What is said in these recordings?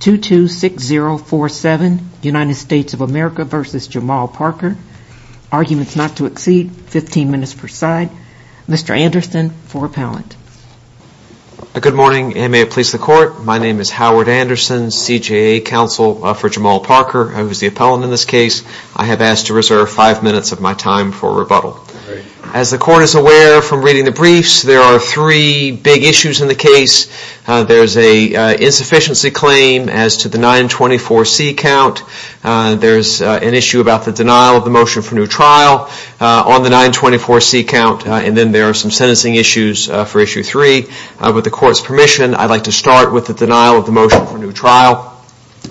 226047 United States of America v. Jamaal Parker, arguments not to exceed 15 minutes per side. Mr. Anderson for appellant. Good morning and may it please the court, my name is Howard Anderson, CJA counsel for Jamaal Parker who is the appellant in this case. I have asked to reserve 5 minutes of my time for rebuttal. As the court is aware from reading the briefs there are three big issues in the case. There is a insufficiency claim as to the 924C count. There is an issue about the denial of the motion for new trial on the 924C count and then there are some sentencing issues for issue 3. With the court's permission I would like to start with the denial of the motion for new trial.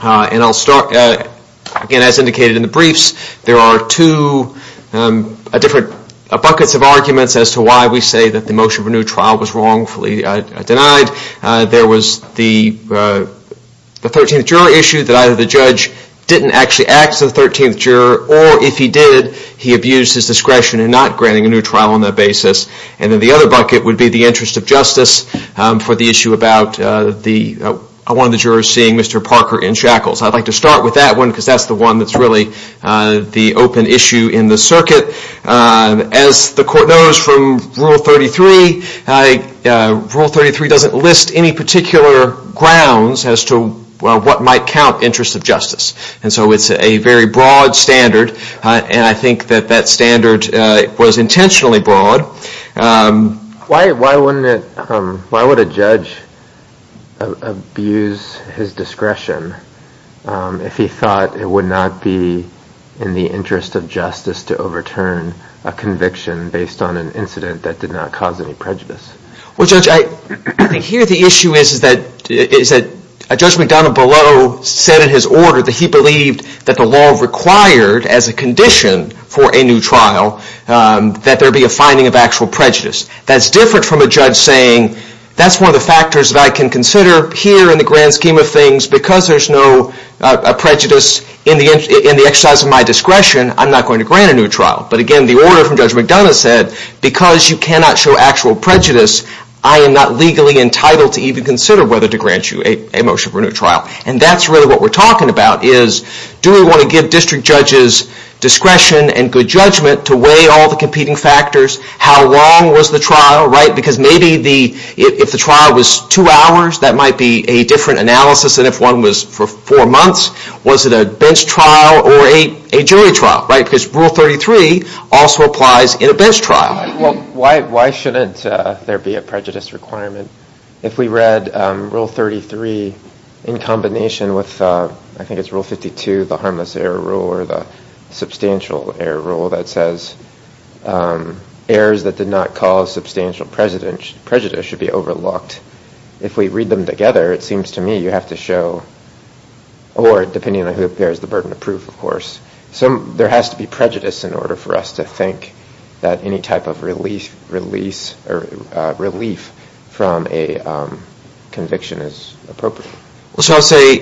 And I will start, again as indicated in the briefs, there are two different buckets of arguments as to why we say that the motion for new trial was wrongfully denied. There was the 13th juror issue that either the judge didn't actually act as the 13th juror or if he did he abused his discretion in not granting a new trial on that basis. And then the other bucket would be the interest of justice for the issue about one of the jurors seeing Mr. Parker in shackles. I would like to start with that one because that is the one that is really the open issue in the rule 33. Rule 33 doesn't list any particular grounds as to what might count interest of justice. And so it is a very broad standard and I think that that standard was intentionally broad. Why would a judge abuse his discretion if he thought it would not be in the interest of justice to overturn a conviction based on an incident that did not cause any prejudice? Here the issue is that Judge McDonough below said in his order that he believed that the law required as a condition for a new trial that there be a finding of actual prejudice. That's different from a judge saying that's one of the factors that I can consider here in the grand scheme of things because there's no prejudice in the exercise of my discretion I'm not going to grant a new trial. But again the order from Judge McDonough said because you cannot show actual prejudice I am not legally entitled to even consider whether to grant you a motion for a new trial. And that's really what we're talking about is do we want to give district judges discretion and good judgment to weigh all the competing factors? How long was the trial? Because maybe if the trial was two hours that might be a different analysis than if one was for four months. Was it a bench trial or a jury trial? Because Rule 33 also applies in a bench trial. Why shouldn't there be a prejudice requirement? If we read Rule 33 in combination with I think it's Rule 52 the harmless error rule or the substantial error rule that says errors that did not cause substantial prejudice should be overlooked. If we read them together it seems to me you have to show or depending on who bears the burden of proof of course there has to be prejudice in order for us to think that any type of release or relief from a conviction is appropriate. So I'll say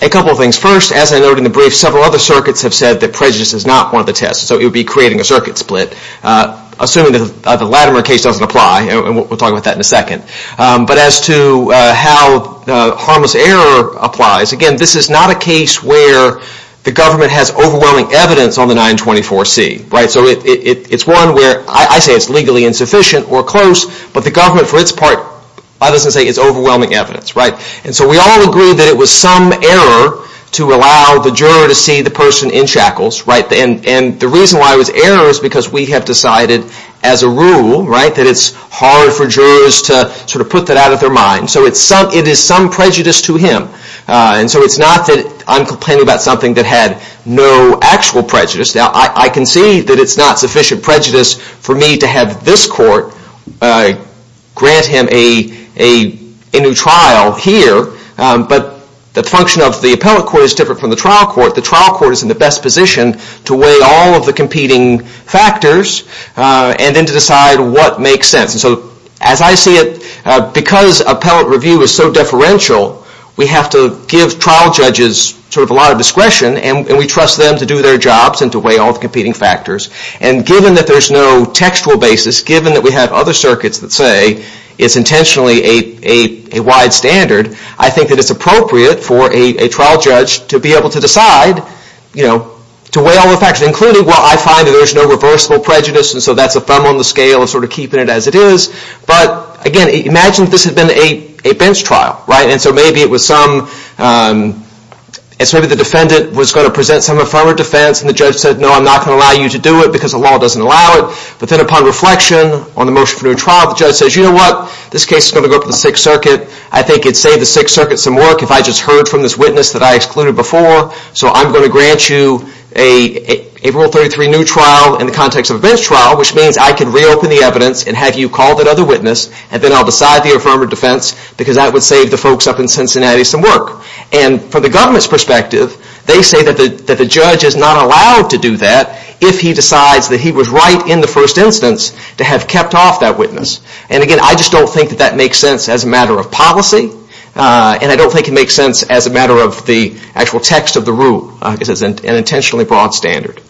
a couple of things. First as I noted in the brief several other circuits have said that prejudice is not one of the tests. So it would be creating a circuit split assuming that the Latimer case doesn't apply and we'll talk about that in a second. But as to how the harmless error applies, again this is not a case where the government has overwhelming evidence on the 924C. So it's one where I say it's legally insufficient or close but the government for its part doesn't say it's overwhelming evidence. And so we all agree that it was some error to allow the juror to see the person in shackles and the reason why it was error is because we have decided as a rule that it's hard for jurors to sort of put that out of their mind. So it is some prejudice to him. And so it's not that I'm complaining about something that had no actual prejudice. I can see that it's not sufficient prejudice for me to have this court grant him a new trial here but the function of the appellate court is different from the trial court. The trial court is in the best position to weigh all of the competing factors and then to decide what makes sense. And so as I see it, because appellate review is so deferential, we have to give trial judges sort of a lot of discretion and we trust them to do their jobs and to weigh all the competing factors. And given that there's no textual basis, given that we have other circuits that say it's intentionally a wide standard, I think that it's appropriate for a trial judge to be able to decide to weigh all the factors, including well I find that there's no reversible prejudice and so that's a thumb on the scale of sort of keeping it as it is. But again, imagine this had been a bench trial, right? And so maybe it was some, maybe the defendant was going to present some affirmative defense and the judge said no I'm not going to allow you to do it because the law doesn't allow it. But then upon reflection on the motion for new trial, the judge says you know what, this case is going to go up to the Sixth Circuit. I think it'd save the Sixth Circuit some work if I just heard from this witness that I excluded before so I'm going to grant you a Rule 33 new trial in the context of a bench trial which means I can reopen the evidence and have you call that other witness and then I'll decide the affirmative defense because that would save the folks up in Cincinnati some work. And from the government's perspective, they say that the judge is not allowed to do that if he decides that he was right in the first instance to have kept off that witness. And again, I just don't think that that makes sense as a matter of policy and I don't think it makes sense as a matter of the actual text of the rule. I think it's an intentionally broad standard.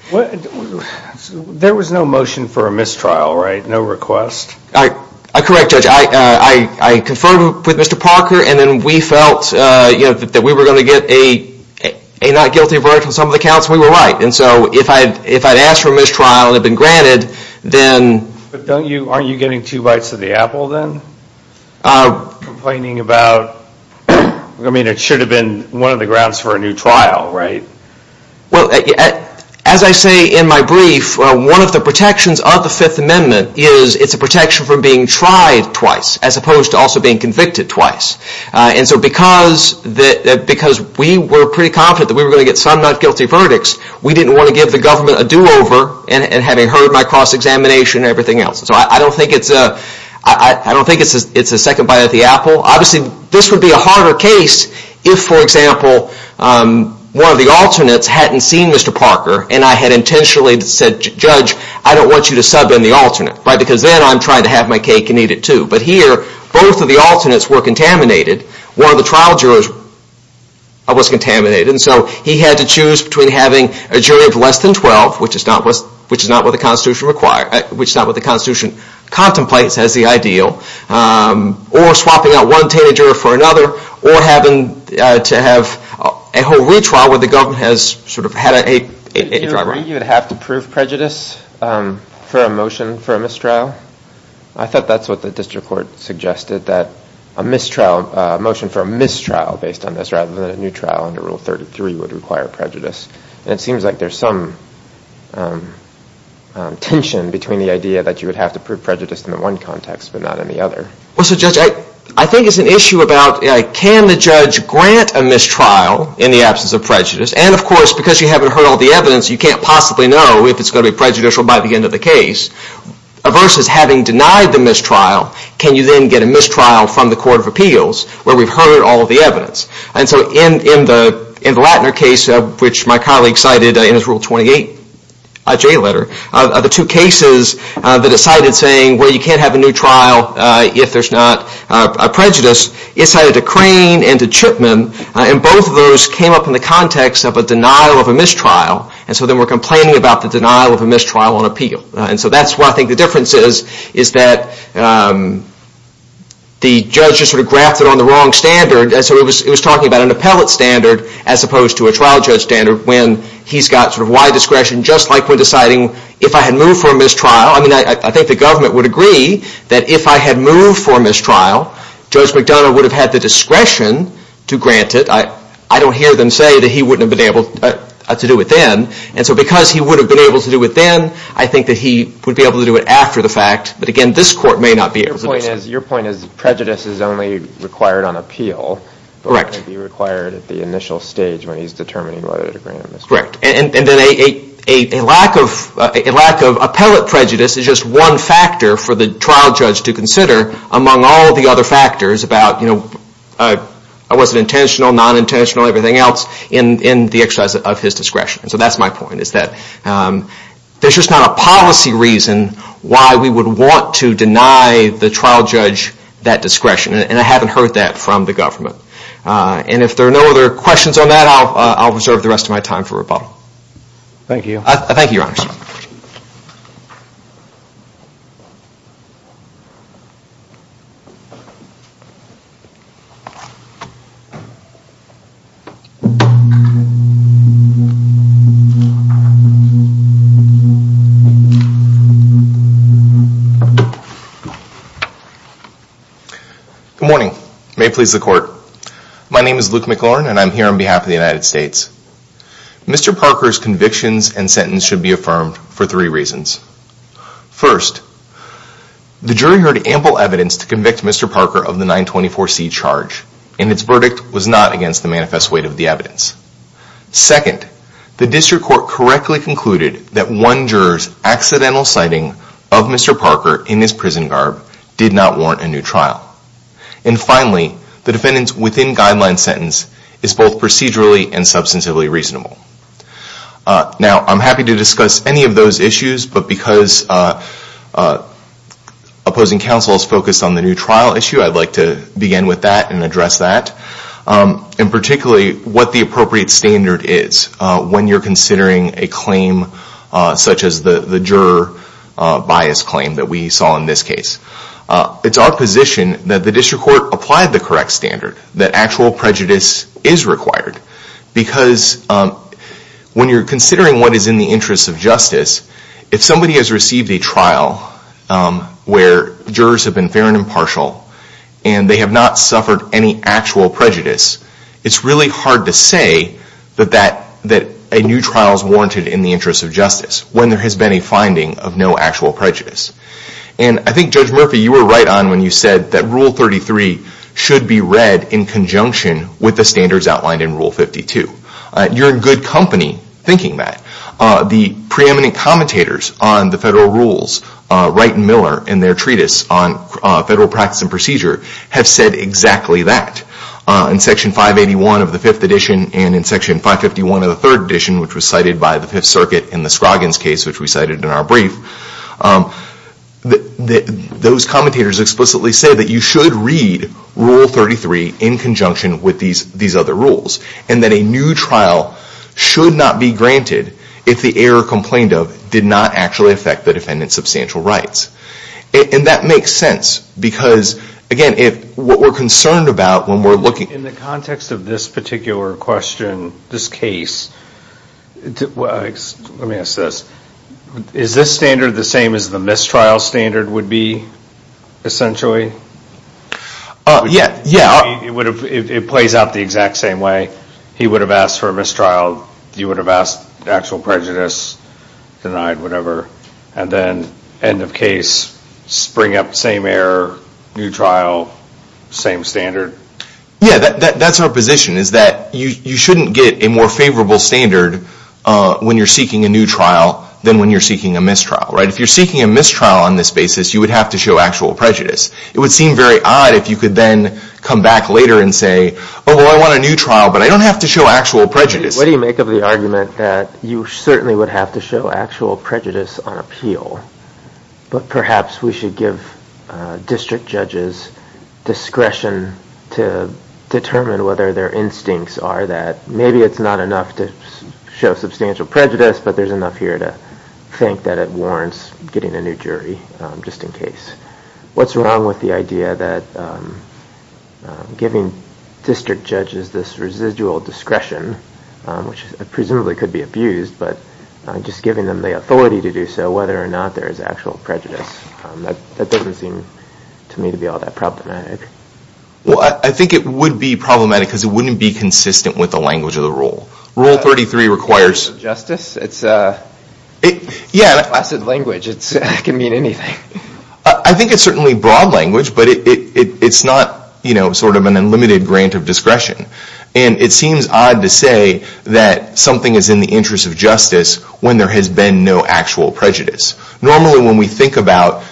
There was no motion for a mistrial, right? No request? Correct, Judge. I conferred with Mr. Parker and then we felt that we were going to get a not guilty verdict on some of the counts and we were right. And so if I'd asked for a mistrial and it had been granted, then... But aren't you getting two bites of the apple then? Complaining about... I mean it should have been one of the grounds for a new trial, right? As I say in my brief, one of the protections of the Fifth Amendment is it's a protection for being tried twice as opposed to also being convicted twice. And so because we were pretty confident that we were going to get some not guilty verdicts, we didn't want to give the government a do-over in having heard my cross-examination and everything else. So I don't think it's a second bite of the apple. Obviously this would be a harder case if, for example, one of the alternates hadn't seen Mr. Parker and I had intentionally said, Judge, I don't want you to sub in the alternate. Because then I'm trying to have my cake and eat it too. But here, both of the alternates were contaminated. One of the trial jurors was contaminated. And so he had to choose between having a jury of less than 12, which is not what the Constitution requires, which is not what the Constitution contemplates as the ideal, or swapping out one teenager for another, or having to have a whole retrial where the government has sort of had a driver. Do you agree you would have to prove prejudice for a motion for a mistrial? I thought that's what the district court suggested, that a mistrial, a motion for a mistrial based on this, rather than a new trial under Rule 33 would require prejudice. And it seems like there's some tension between the idea that you would have to prove prejudice in the one context but not in the other. Well, so Judge, I think it's an issue about can the judge grant a mistrial in the absence of prejudice? And of course, because you haven't heard all the evidence, you can't possibly know if it's going to be prejudicial by the end of the case. Versus having denied the mistrial, can you then get a mistrial from the Court of Appeals where we've heard all the evidence? And so in the Lattner case, which my colleague cited in his Rule 28 J letter, the two cases that it cited saying, well, you can't have a new trial if there's not prejudice, it cited to Crane and to Chipman, and both of those came up in the context of a denial of a mistrial, and so then we're complaining about the denial of a mistrial on appeal. And so that's what I think the difference is, is that the judge just sort of grafted on the wrong standard. And so it was talking about an appellate standard as opposed to a trial judge standard when he's got sort of wide discretion, just like when deciding if I had moved for a mistrial. I mean, I think the government would agree that if I had moved for a mistrial, Judge McDonough would have had the discretion to grant it. I don't hear them say that he wouldn't have been able to do it then. And so because he would have been able to do it then, I think that he would be able to do it after the fact. But again, this Court may not be able to decide. Your point is prejudice is only required on appeal, but it may be required at the initial stage when he's determining whether to grant a mistrial. Correct. And then a lack of appellate prejudice is just one factor for the trial judge to consider among all the other factors about was it intentional, non-intentional, everything else in the exercise of his discretion. So that's my point, is that there's just not a policy reason why we would want to deny the trial judge that discretion. And I haven't heard that from the government. And if there are no other questions on that, I'll reserve the rest of my time for rebuttal. Thank you. Thank you, Your Honors. Good morning. May it please the Court. My name is Luke McLaurin, and I'm here on behalf of the United States. Mr. Parker's convictions and sentence should be affirmed for three reasons. First, the jury heard ample evidence to convict Mr. Parker of the 924C charge, and its verdict was not against the manifest weight of the evidence. Second, the District Attorney's accidental sighting of Mr. Parker in his prison garb did not warrant a new trial. And finally, the defendant's within-guideline sentence is both procedurally and substantively reasonable. Now, I'm happy to discuss any of those issues, but because opposing counsel is focused on the new trial issue, I'd like to begin with that and address that, and particularly what the appropriate standard is when you're considering a claim such as the juror bias claim that we saw in this case. It's our position that the district court applied the correct standard, that actual prejudice is required. Because when you're considering what is in the interest of justice, if somebody has received a trial where jurors have been fair and impartial, and they have not suffered any actual prejudice, it's really hard to say that a new trial is warranted in the interest of justice when there has been a finding of no actual prejudice. And I think, Judge Murphy, you were right on when you said that Rule 33 should be read in conjunction with the standards outlined in Rule 52. You're in good company thinking that. The preeminent commentators on the federal rules, Wright and Miller and their treatise on federal practice and procedure, have said exactly that. In Section 581 of the 5th edition and in Section 551 of the 3rd edition, which was cited by the 5th Circuit in the Scroggins case which we cited in our brief, those commentators explicitly say that you should read Rule 33 in conjunction with these other rules, and that a new trial should not be granted if the error complained of did not actually affect the defendant's substantial rights. And that makes sense because, again, what we're concerned about when we're looking... In the context of this particular question, this case, let me ask this, is this standard the same as the mistrial standard would be, essentially? Yeah. It plays out the exact same way. He would have asked for a mistrial, you would have asked actual prejudice, denied whatever, and then end of case, spring up the same error, new trial, same standard. Yeah, that's our position, is that you shouldn't get a more favorable standard when you're seeking a new trial than when you're seeking a mistrial, right? If you're seeking a mistrial on this basis, you would have to show actual prejudice. It would seem very odd if you could then come back later and say, oh, well, I want a new trial, but I don't have to show actual prejudice. What do you make of the argument that you certainly would have to show actual prejudice on appeal, but perhaps we should give district judges discretion to determine whether their instincts are that maybe it's not enough to show substantial prejudice, but there's enough here to think that it warrants getting a new jury just in case? What's wrong with the idea that giving district judges this residual discretion, which presumably could be abused, but just giving them the authority to do so, whether or not there is actual prejudice, that doesn't seem to me to be all that problematic. Well, I think it would be problematic because it wouldn't be consistent with the language of the rule. Rule 33 requires... Justice? If I said language, it can mean anything. I think it's certainly broad language, but it's not sort of an unlimited grant of discretion. And it seems odd to say that something is in the interest of justice when there has been no actual prejudice. Normally when we think about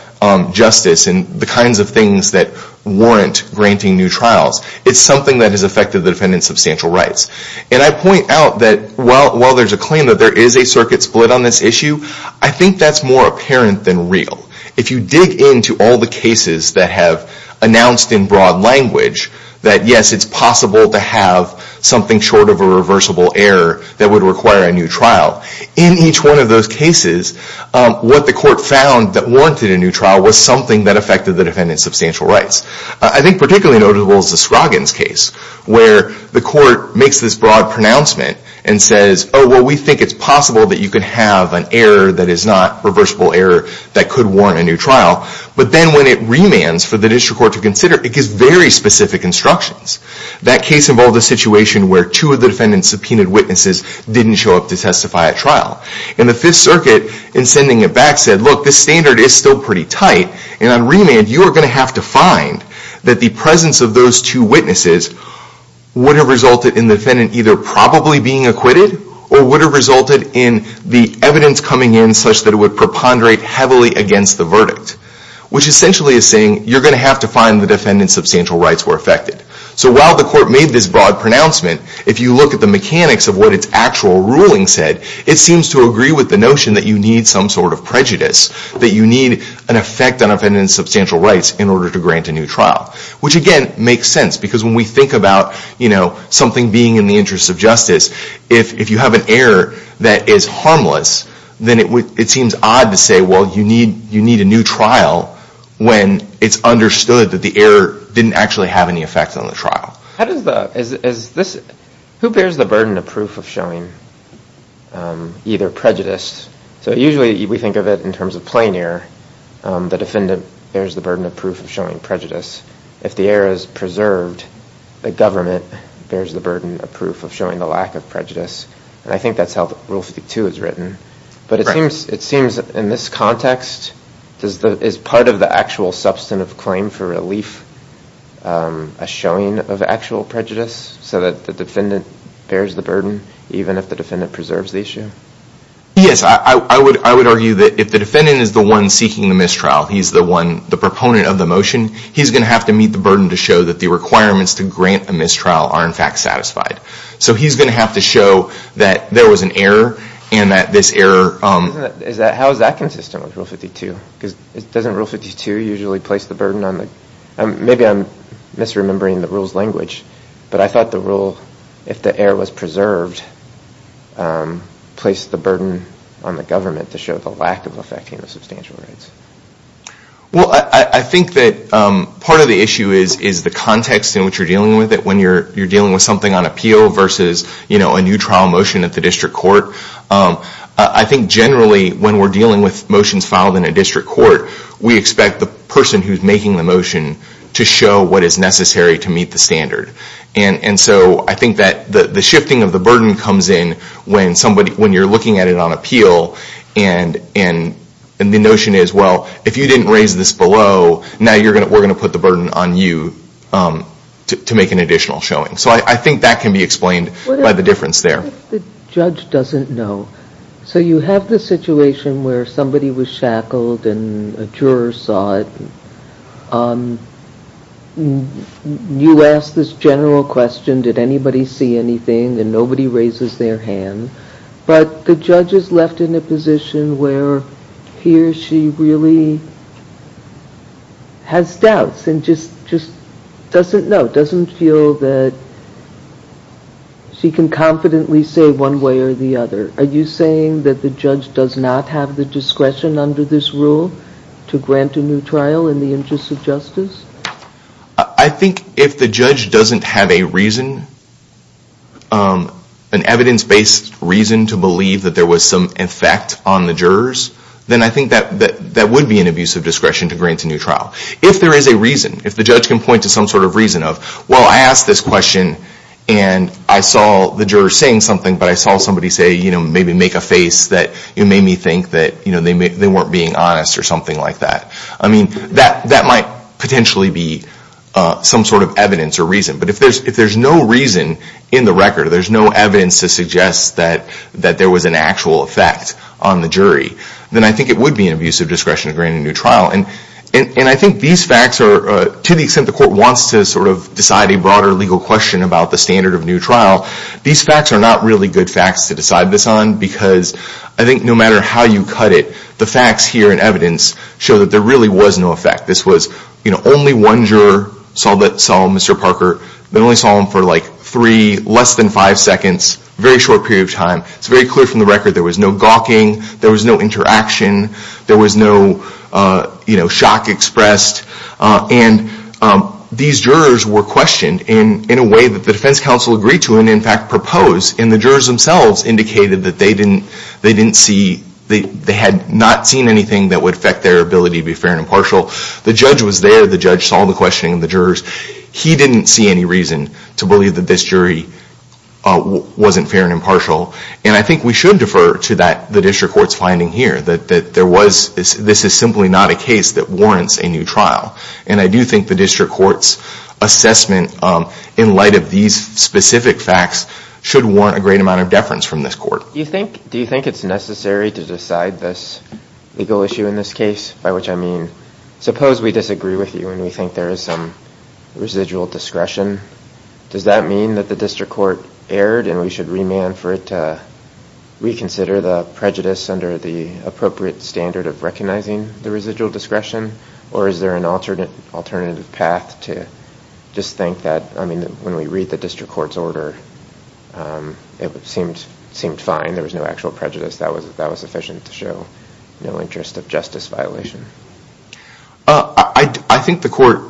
justice and the kinds of things that warrant granting new trials, it's something that has affected the defendant's substantial rights. And I point out that while there's a claim that there is a circuit split on this issue, I think that's more apparent than real. If you dig into all the cases that have announced in broad language that, yes, it's possible to have something short of a reversible error that would require a new trial, in each one of those cases, what the court found that warranted a new trial was something that affected the defendant's substantial rights. I think particularly notable is the Scroggins case, where the court makes this broad pronouncement and says, oh, well, we think it's possible that you could have an error that is not reversible error that could warrant a new trial. But then when it remands for the district court to consider, it gives very specific instructions. That case involved a situation where two of the defendant's subpoenaed witnesses didn't show up to testify at trial. And the Fifth Circuit, in sending it back, said, look, this standard is still pretty tight. And on remand, you are going to have to find that the presence of those two witnesses would have resulted in the defendant either probably being acquitted, or would have resulted in the evidence coming in such that it would preponderate heavily against the verdict. Which essentially is saying, you're going to have to find the defendant's substantial rights were affected. So while the court made this broad pronouncement, if you look at the mechanics of what its actual ruling said, it seems to agree with the notion that you need some sort of prejudice, that you need an effect on a defendant's substantial rights in order to grant a new trial. Which again, makes sense. Because when we think about something being in the interest of justice, if you have an error that is harmless, then it seems odd to say, well, you need a new trial when it's understood that the error didn't actually have any effect on the trial. Who bears the burden of proof of showing either prejudice? So usually we think of it in terms of plain error. The defendant bears the burden of proof of showing prejudice. If the error is preserved, the government bears the burden of proof of showing the lack of prejudice. And I think that's how Rule 52 is written. But it seems in this context, is part of the actual substantive claim for relief a showing of actual prejudice, so that the defendant bears the burden, even if the defendant preserves the issue? Yes. I would argue that if the defendant is the one seeking the mistrial, he's the one, the proponent of the motion, he's going to have to meet the burden to show that the requirements to grant a mistrial are in fact satisfied. So he's going to have to show that there was an error, and that this error... How is that consistent with Rule 52? Because doesn't Rule 52 usually place the burden on the, maybe I'm misremembering the rule's language, but I thought the rule, if the error was preserved, placed the burden on the government to show the lack of effecting the substantial rights. Well, I think that part of the issue is the context in which you're dealing with it, when you're dealing with something on appeal versus a new trial motion at the district court. I think generally, when we're dealing with motions filed in a district court, we expect the person who's making the motion to show what is necessary to meet the standard. And so I think that the shifting of the burden comes in when you're looking at it on appeal, and the notion is, well, if you didn't raise this below, now we're going to put the burden on you to make an additional showing. So I think that can be explained by the difference there. What if the judge doesn't know? So you have the situation where somebody was shackled and a juror saw it. You ask this general question, did anybody see anything? And nobody raises their hand, but the judge is left in a position where he or she really has doubts and just doesn't know, doesn't feel that she can confidently say one way or the other. Are you saying that the judge does not have the discretion under this rule to grant a new trial in the interest of justice? I think if the judge doesn't have a reason, an evidence-based reason to believe that there was some effect on the jurors, then I think that would be an abuse of discretion to grant a new trial. If there is a reason, if the judge can point to some sort of reason of, well, I asked this question and I saw the juror saying something, but I saw somebody say, you know, maybe make a face that made me think that they weren't being honest or something like that. I mean, that might potentially be some sort of evidence or reason. But if there's no reason in the record, there's no evidence to suggest that there was an actual effect on the jury, then I think it would be an abuse of discretion to grant a new trial. And I think these facts are, to the extent the court wants to sort of decide a broader legal question about the standard of new trial, these facts are not really good facts to decide this on because I think no matter how you cut it, the facts here and evidence show that there really was no effect. This was, you know, only one juror saw Mr. Parker. They only saw him for like three, less than five seconds, very short period of time. It's very clear from the record there was no gawking, there was no interaction, there was no, you know, shock expressed. And these jurors were questioned in a way that the defense counsel agreed to and in fact proposed. And the jurors themselves indicated that they didn't see, they had not seen anything that would affect their ability to be fair and impartial. The judge was there. The judge saw the questioning of the jurors. He didn't see any reason to believe that this jury wasn't fair and impartial. And I think we should defer to that, the district court's finding here, that there was, this is simply not a case that warrants a new trial. And I do think the district court's assessment in light of these specific facts should warrant a great amount of deference from this court. Do you think it's necessary to decide this legal issue in this case? By which I mean, suppose we disagree with you and we think there is some residual discretion. Does that mean that the district court erred and we should remand for it to reconsider the prejudice under the appropriate standard of recognizing the residual discretion? Or is there an alternative path to just think that, I mean, when we read the district court's order, it seemed fine there was no actual prejudice that was sufficient to show no interest of justice violation? I think the court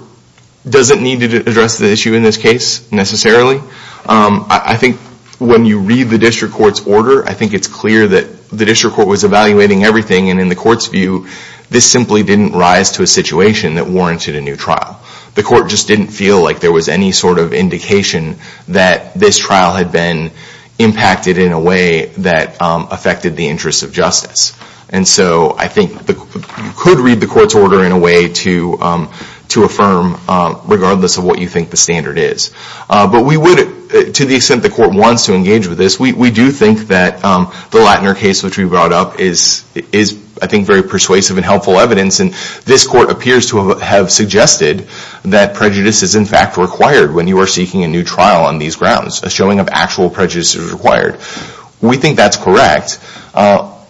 doesn't need to address the issue in this case necessarily. I think when you read the district court's order, I think it's clear that the district court was evaluating everything and in the court's view, this simply didn't rise to a situation that warranted a new trial. The court just didn't feel like there was any sort of indication that this trial had been impacted in a way that affected the interest of justice. And so I think you could read the court's order in a way to affirm regardless of what you think the standard is. But we would, to the extent the court wants to engage with this, we do think that the Lattner case which we brought up is, I think, very persuasive and helpful evidence and this court appears to have suggested that prejudice is in fact required when you are seeking a new trial on these grounds, a showing of actual prejudice is required. We think that's correct.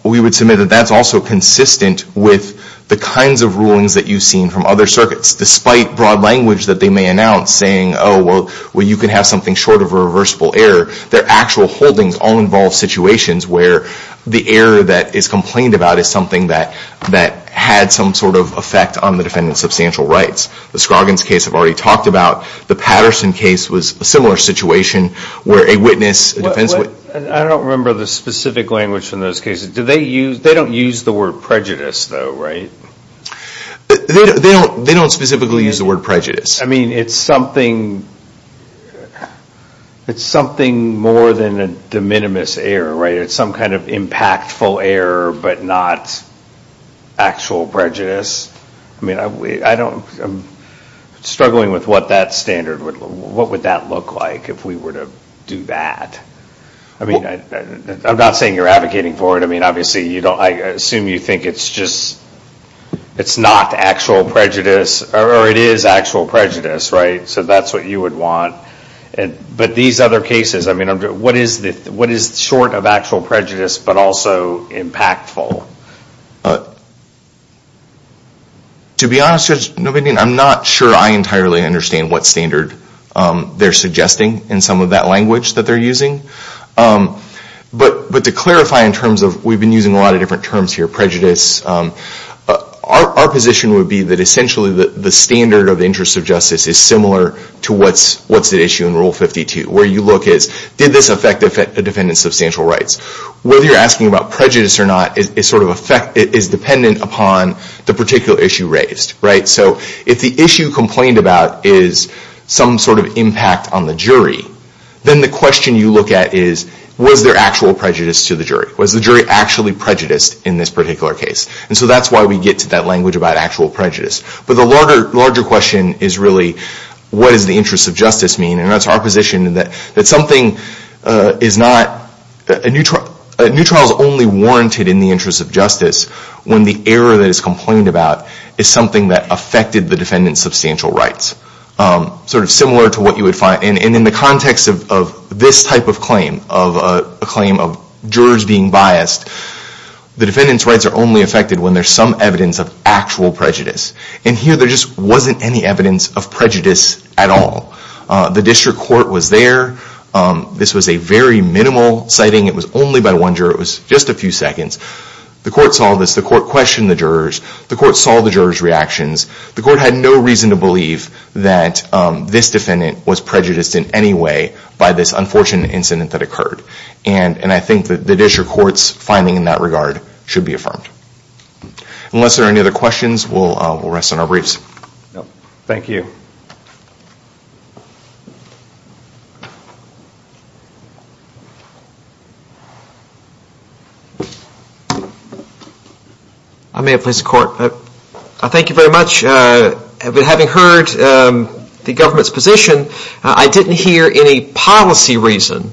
We would submit that that's also consistent with the kinds of rulings that you've seen from other circuits despite broad language that they may announce saying, oh, well, you can have something short of a reversible error. Their actual holdings all involve situations where the error that is complained about is something that had some sort of effect on the defendant's substantial rights. The Scroggins case I've already talked about, the Patterson case was a similar situation where a witness, a defense witness... I don't remember the specific language in those cases. Do they use, they don't use the word prejudice though, right? They don't specifically use the word prejudice. I mean it's something, it's something more than a de minimis error, right? It's some kind of impactful error but not actual prejudice. I mean, I don't, I'm struggling with what that standard, what would that look like if we were to do that? I mean, I'm not saying you're advocating for it. I mean, obviously you don't, I assume you think it's just, it's not actual prejudice or it is actual prejudice, right? So that's what you would want. But these other cases, I mean, what is short of actual prejudice but also impactful? To be honest Judge Novandian, I'm not sure I entirely understand what standard they're suggesting in some of that language that they're using. But to clarify in terms of, we've been using a lot of different terms here, prejudice. Our position would be that essentially the standard of the interest of justice is similar to what's at issue in Rule 52, where you look as did this affect a defendant's substantial rights? Whether you're asking about prejudice or not is sort of dependent upon the particular issue raised, right? So if the issue complained about is some sort of impact on the jury, then the question you look at is was there actual prejudice to the jury? Was the jury actually prejudiced in this particular case? And so that's why we get to that language about actual prejudice. But the larger question is really what does the interest of justice mean? And that's our position, that something is not, a new trial is only warranted in the interest of justice when the error that is complained about is something that affected the defendant's substantial rights. Sort of similar to what you would find, and in the context of this type of claim, of a claim of jurors being biased, the defendant's rights are only affected when there's some evidence of actual prejudice. And here there just wasn't any evidence of prejudice at all. The district court was there. This was a very minimal sighting. It was only by one juror. It was just a few seconds. The court saw this. The court questioned the jurors. The court saw the jurors' reactions. The court had no reason to believe that this defendant was prejudiced in any way by this unfortunate incident that occurred. And I think the district court's finding in that regard should be affirmed. Unless there are any other questions, we'll rest on our briefs. Thank you. I may have placed the court. Thank you very much. But having heard the government's position, I didn't hear any policy reason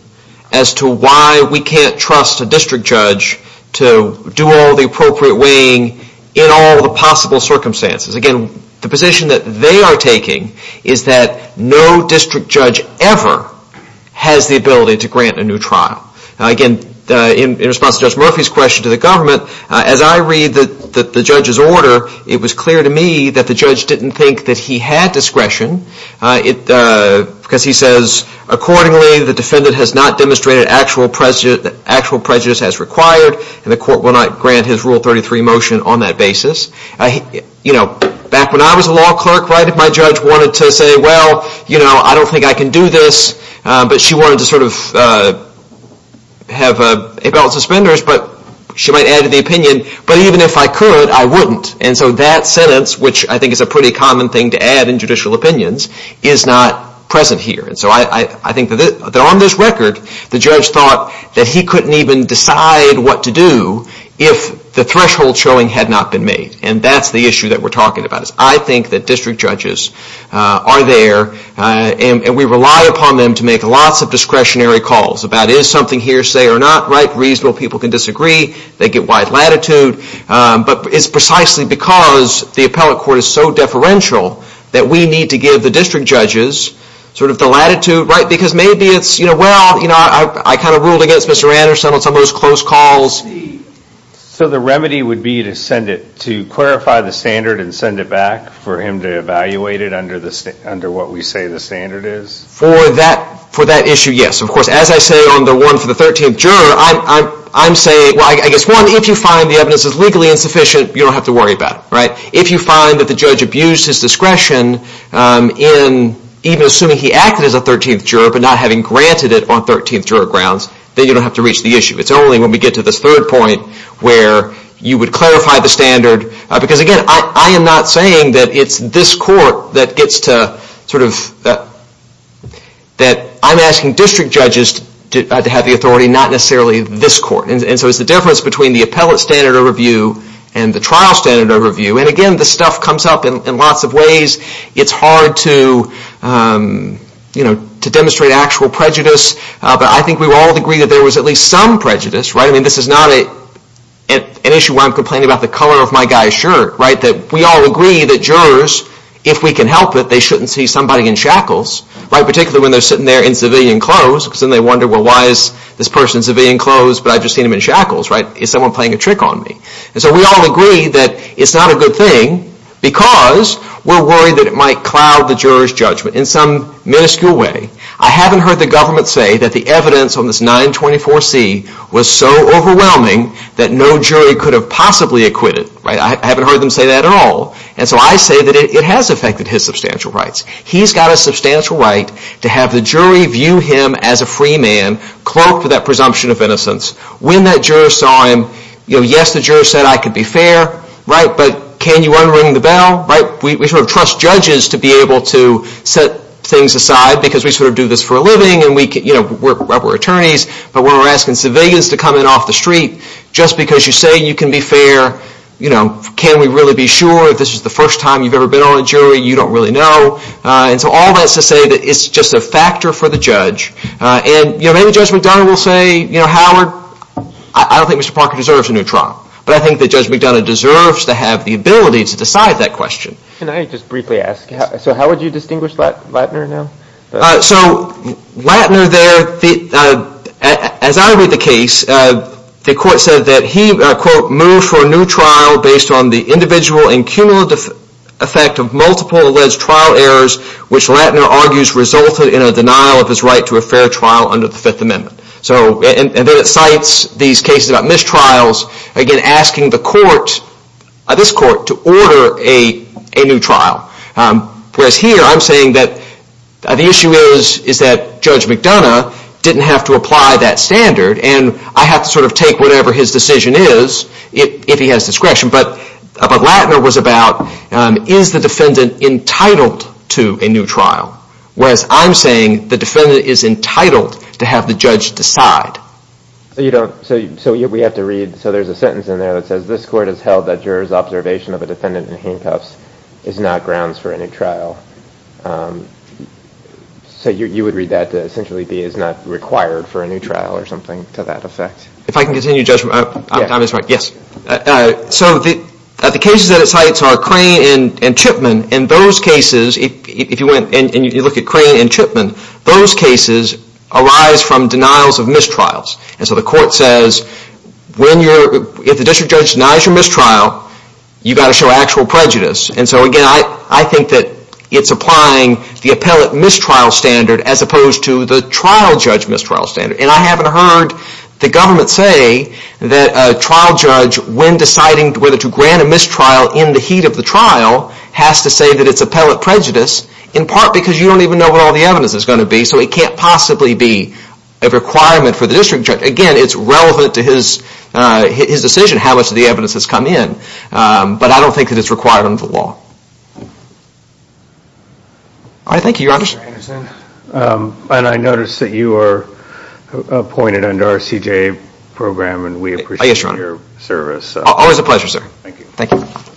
as to why we can't trust a district judge to do all the appropriate weighing in all the possible circumstances. Again, the position that they are taking is that no district judge ever has the ability to grant a new trial. Again, in response to Judge Murphy's question to the government, as I read the judge's order, it was clear to me that the judge didn't think that he had discretion. Because he says, accordingly, the defendant has not demonstrated actual prejudice as required, and the court will not grant his Rule 33 motion on that basis. You know, back when I was a law clerk, right, my judge wanted to say, well, you know, I don't think I can do this. But she wanted to sort of have a balance of spenders. But she might add to the opinion, but even if I could, I wouldn't. And so that sentence, which I think is a pretty common thing to add in judicial opinions, is not present here. And so I think that on this record, the judge thought that he couldn't even decide what to do if the threshold showing had not been made. And that's the issue that we're talking about. I think that district judges are there, and we rely upon them to make lots of discretionary calls about is something hearsay or not, right? So people can disagree. They get wide latitude. But it's precisely because the appellate court is so deferential that we need to give the district judges sort of the latitude, right? Because maybe it's, you know, well, you know, I kind of ruled against Mr. Anderson on some of those close calls. So the remedy would be to send it, to clarify the standard and send it back for him to evaluate it under what we say the standard is? For that issue, yes. Of course, as I say on the one for the 13th juror, I'm saying, well, I guess, one, if you find the evidence is legally insufficient, you don't have to worry about it, right? If you find that the judge abused his discretion in even assuming he acted as a 13th juror but not having granted it on 13th juror grounds, then you don't have to reach the issue. It's only when we get to this third point where you would clarify the standard, because again, I am not saying that it's this court that gets to sort of that, that I'm asking district judges to have the authority, not necessarily this court. And so it's the difference between the appellate standard overview and the trial standard overview. And again, this stuff comes up in lots of ways. It's hard to, you know, to demonstrate actual prejudice. But I think we would all agree that there was at least some prejudice, right? I mean, this is not an issue where I'm complaining about the color of my guy's shirt, right? That we all agree that jurors, if we can help it, they shouldn't see somebody in shackles, right? Particularly when they're sitting there in civilian clothes, because then they wonder, well, why is this person in civilian clothes, but I've just seen him in shackles, right? Is someone playing a trick on me? And so we all agree that it's not a good thing because we're worried that it might cloud the juror's judgment in some minuscule way. I haven't heard the government say that the evidence on this 924C was so overwhelming that no jury could have possibly acquitted, right? I haven't heard them say that at all. And so I say that it has affected his substantial rights. He's got a substantial right to have the jury view him as a free man, clerk for that presumption of innocence. When that juror saw him, you know, yes, the juror said I could be fair, right? But can you unring the bell, right? We sort of trust judges to be able to set things aside because we sort of do this for a living and we're attorneys, but when we're asking civilians to come in off the street, just because you say you can be fair, you know, can we really be sure if this is the first time you've ever been on a jury you don't really know? And so all that's to say that it's just a factor for the judge. And maybe Judge McDonough will say, you know, Howard, I don't think Mr. Parker deserves a new trial, but I think that Judge McDonough deserves to have the ability to decide that question. Can I just briefly ask, so how would you distinguish Lattner now? So Lattner there, as I read the case, the court said that he, quote, moved for a new trial based on the individual and cumulative effect of multiple alleged trial errors, which Lattner argues resulted in a denial of his right to a fair trial under the Fifth Amendment. And then it cites these cases about mistrials, again, asking the court, this court, to order a new trial. Whereas here I'm saying that the issue is that Judge McDonough didn't have to apply that standard and I have to sort of take whatever his decision is if he has discretion, but what Lattner was about is the defendant entitled to a new whereas I'm saying the defendant is entitled to have the judge decide. So you don't, so we have to read, so there's a sentence in there that says, this court has held that juror's observation of a defendant in handcuffs is not grounds for a new trial. So you would read that to essentially be is not required for a new trial or something to that effect. If I can continue, Judge McDonough's right, yes. So the cases that it cites are Crane and Chipman. In those cases, if you went and you look at Crane and Chipman, those cases arise from denials of mistrials. And so the court says, if the district judge denies your mistrial, you've got to show actual prejudice. And so again, I think that it's applying the appellate mistrial standard as opposed to the trial judge mistrial standard. And I haven't heard the government say that a trial judge, when deciding whether to grant a mistrial in the heat of the trial, has to say that it's appellate prejudice, in part because you don't even know what all the evidence is going to be, so it can't possibly be a requirement for the district judge. Again, it's relevant to his decision, how much of the evidence has come in. But I don't think that it's required under the law. All right, thank you, Your Honor. Mr. Anderson, and I notice that you are appointed under our CJA program, and we appreciate your service. Always a pleasure, sir. Thank you. Thank you.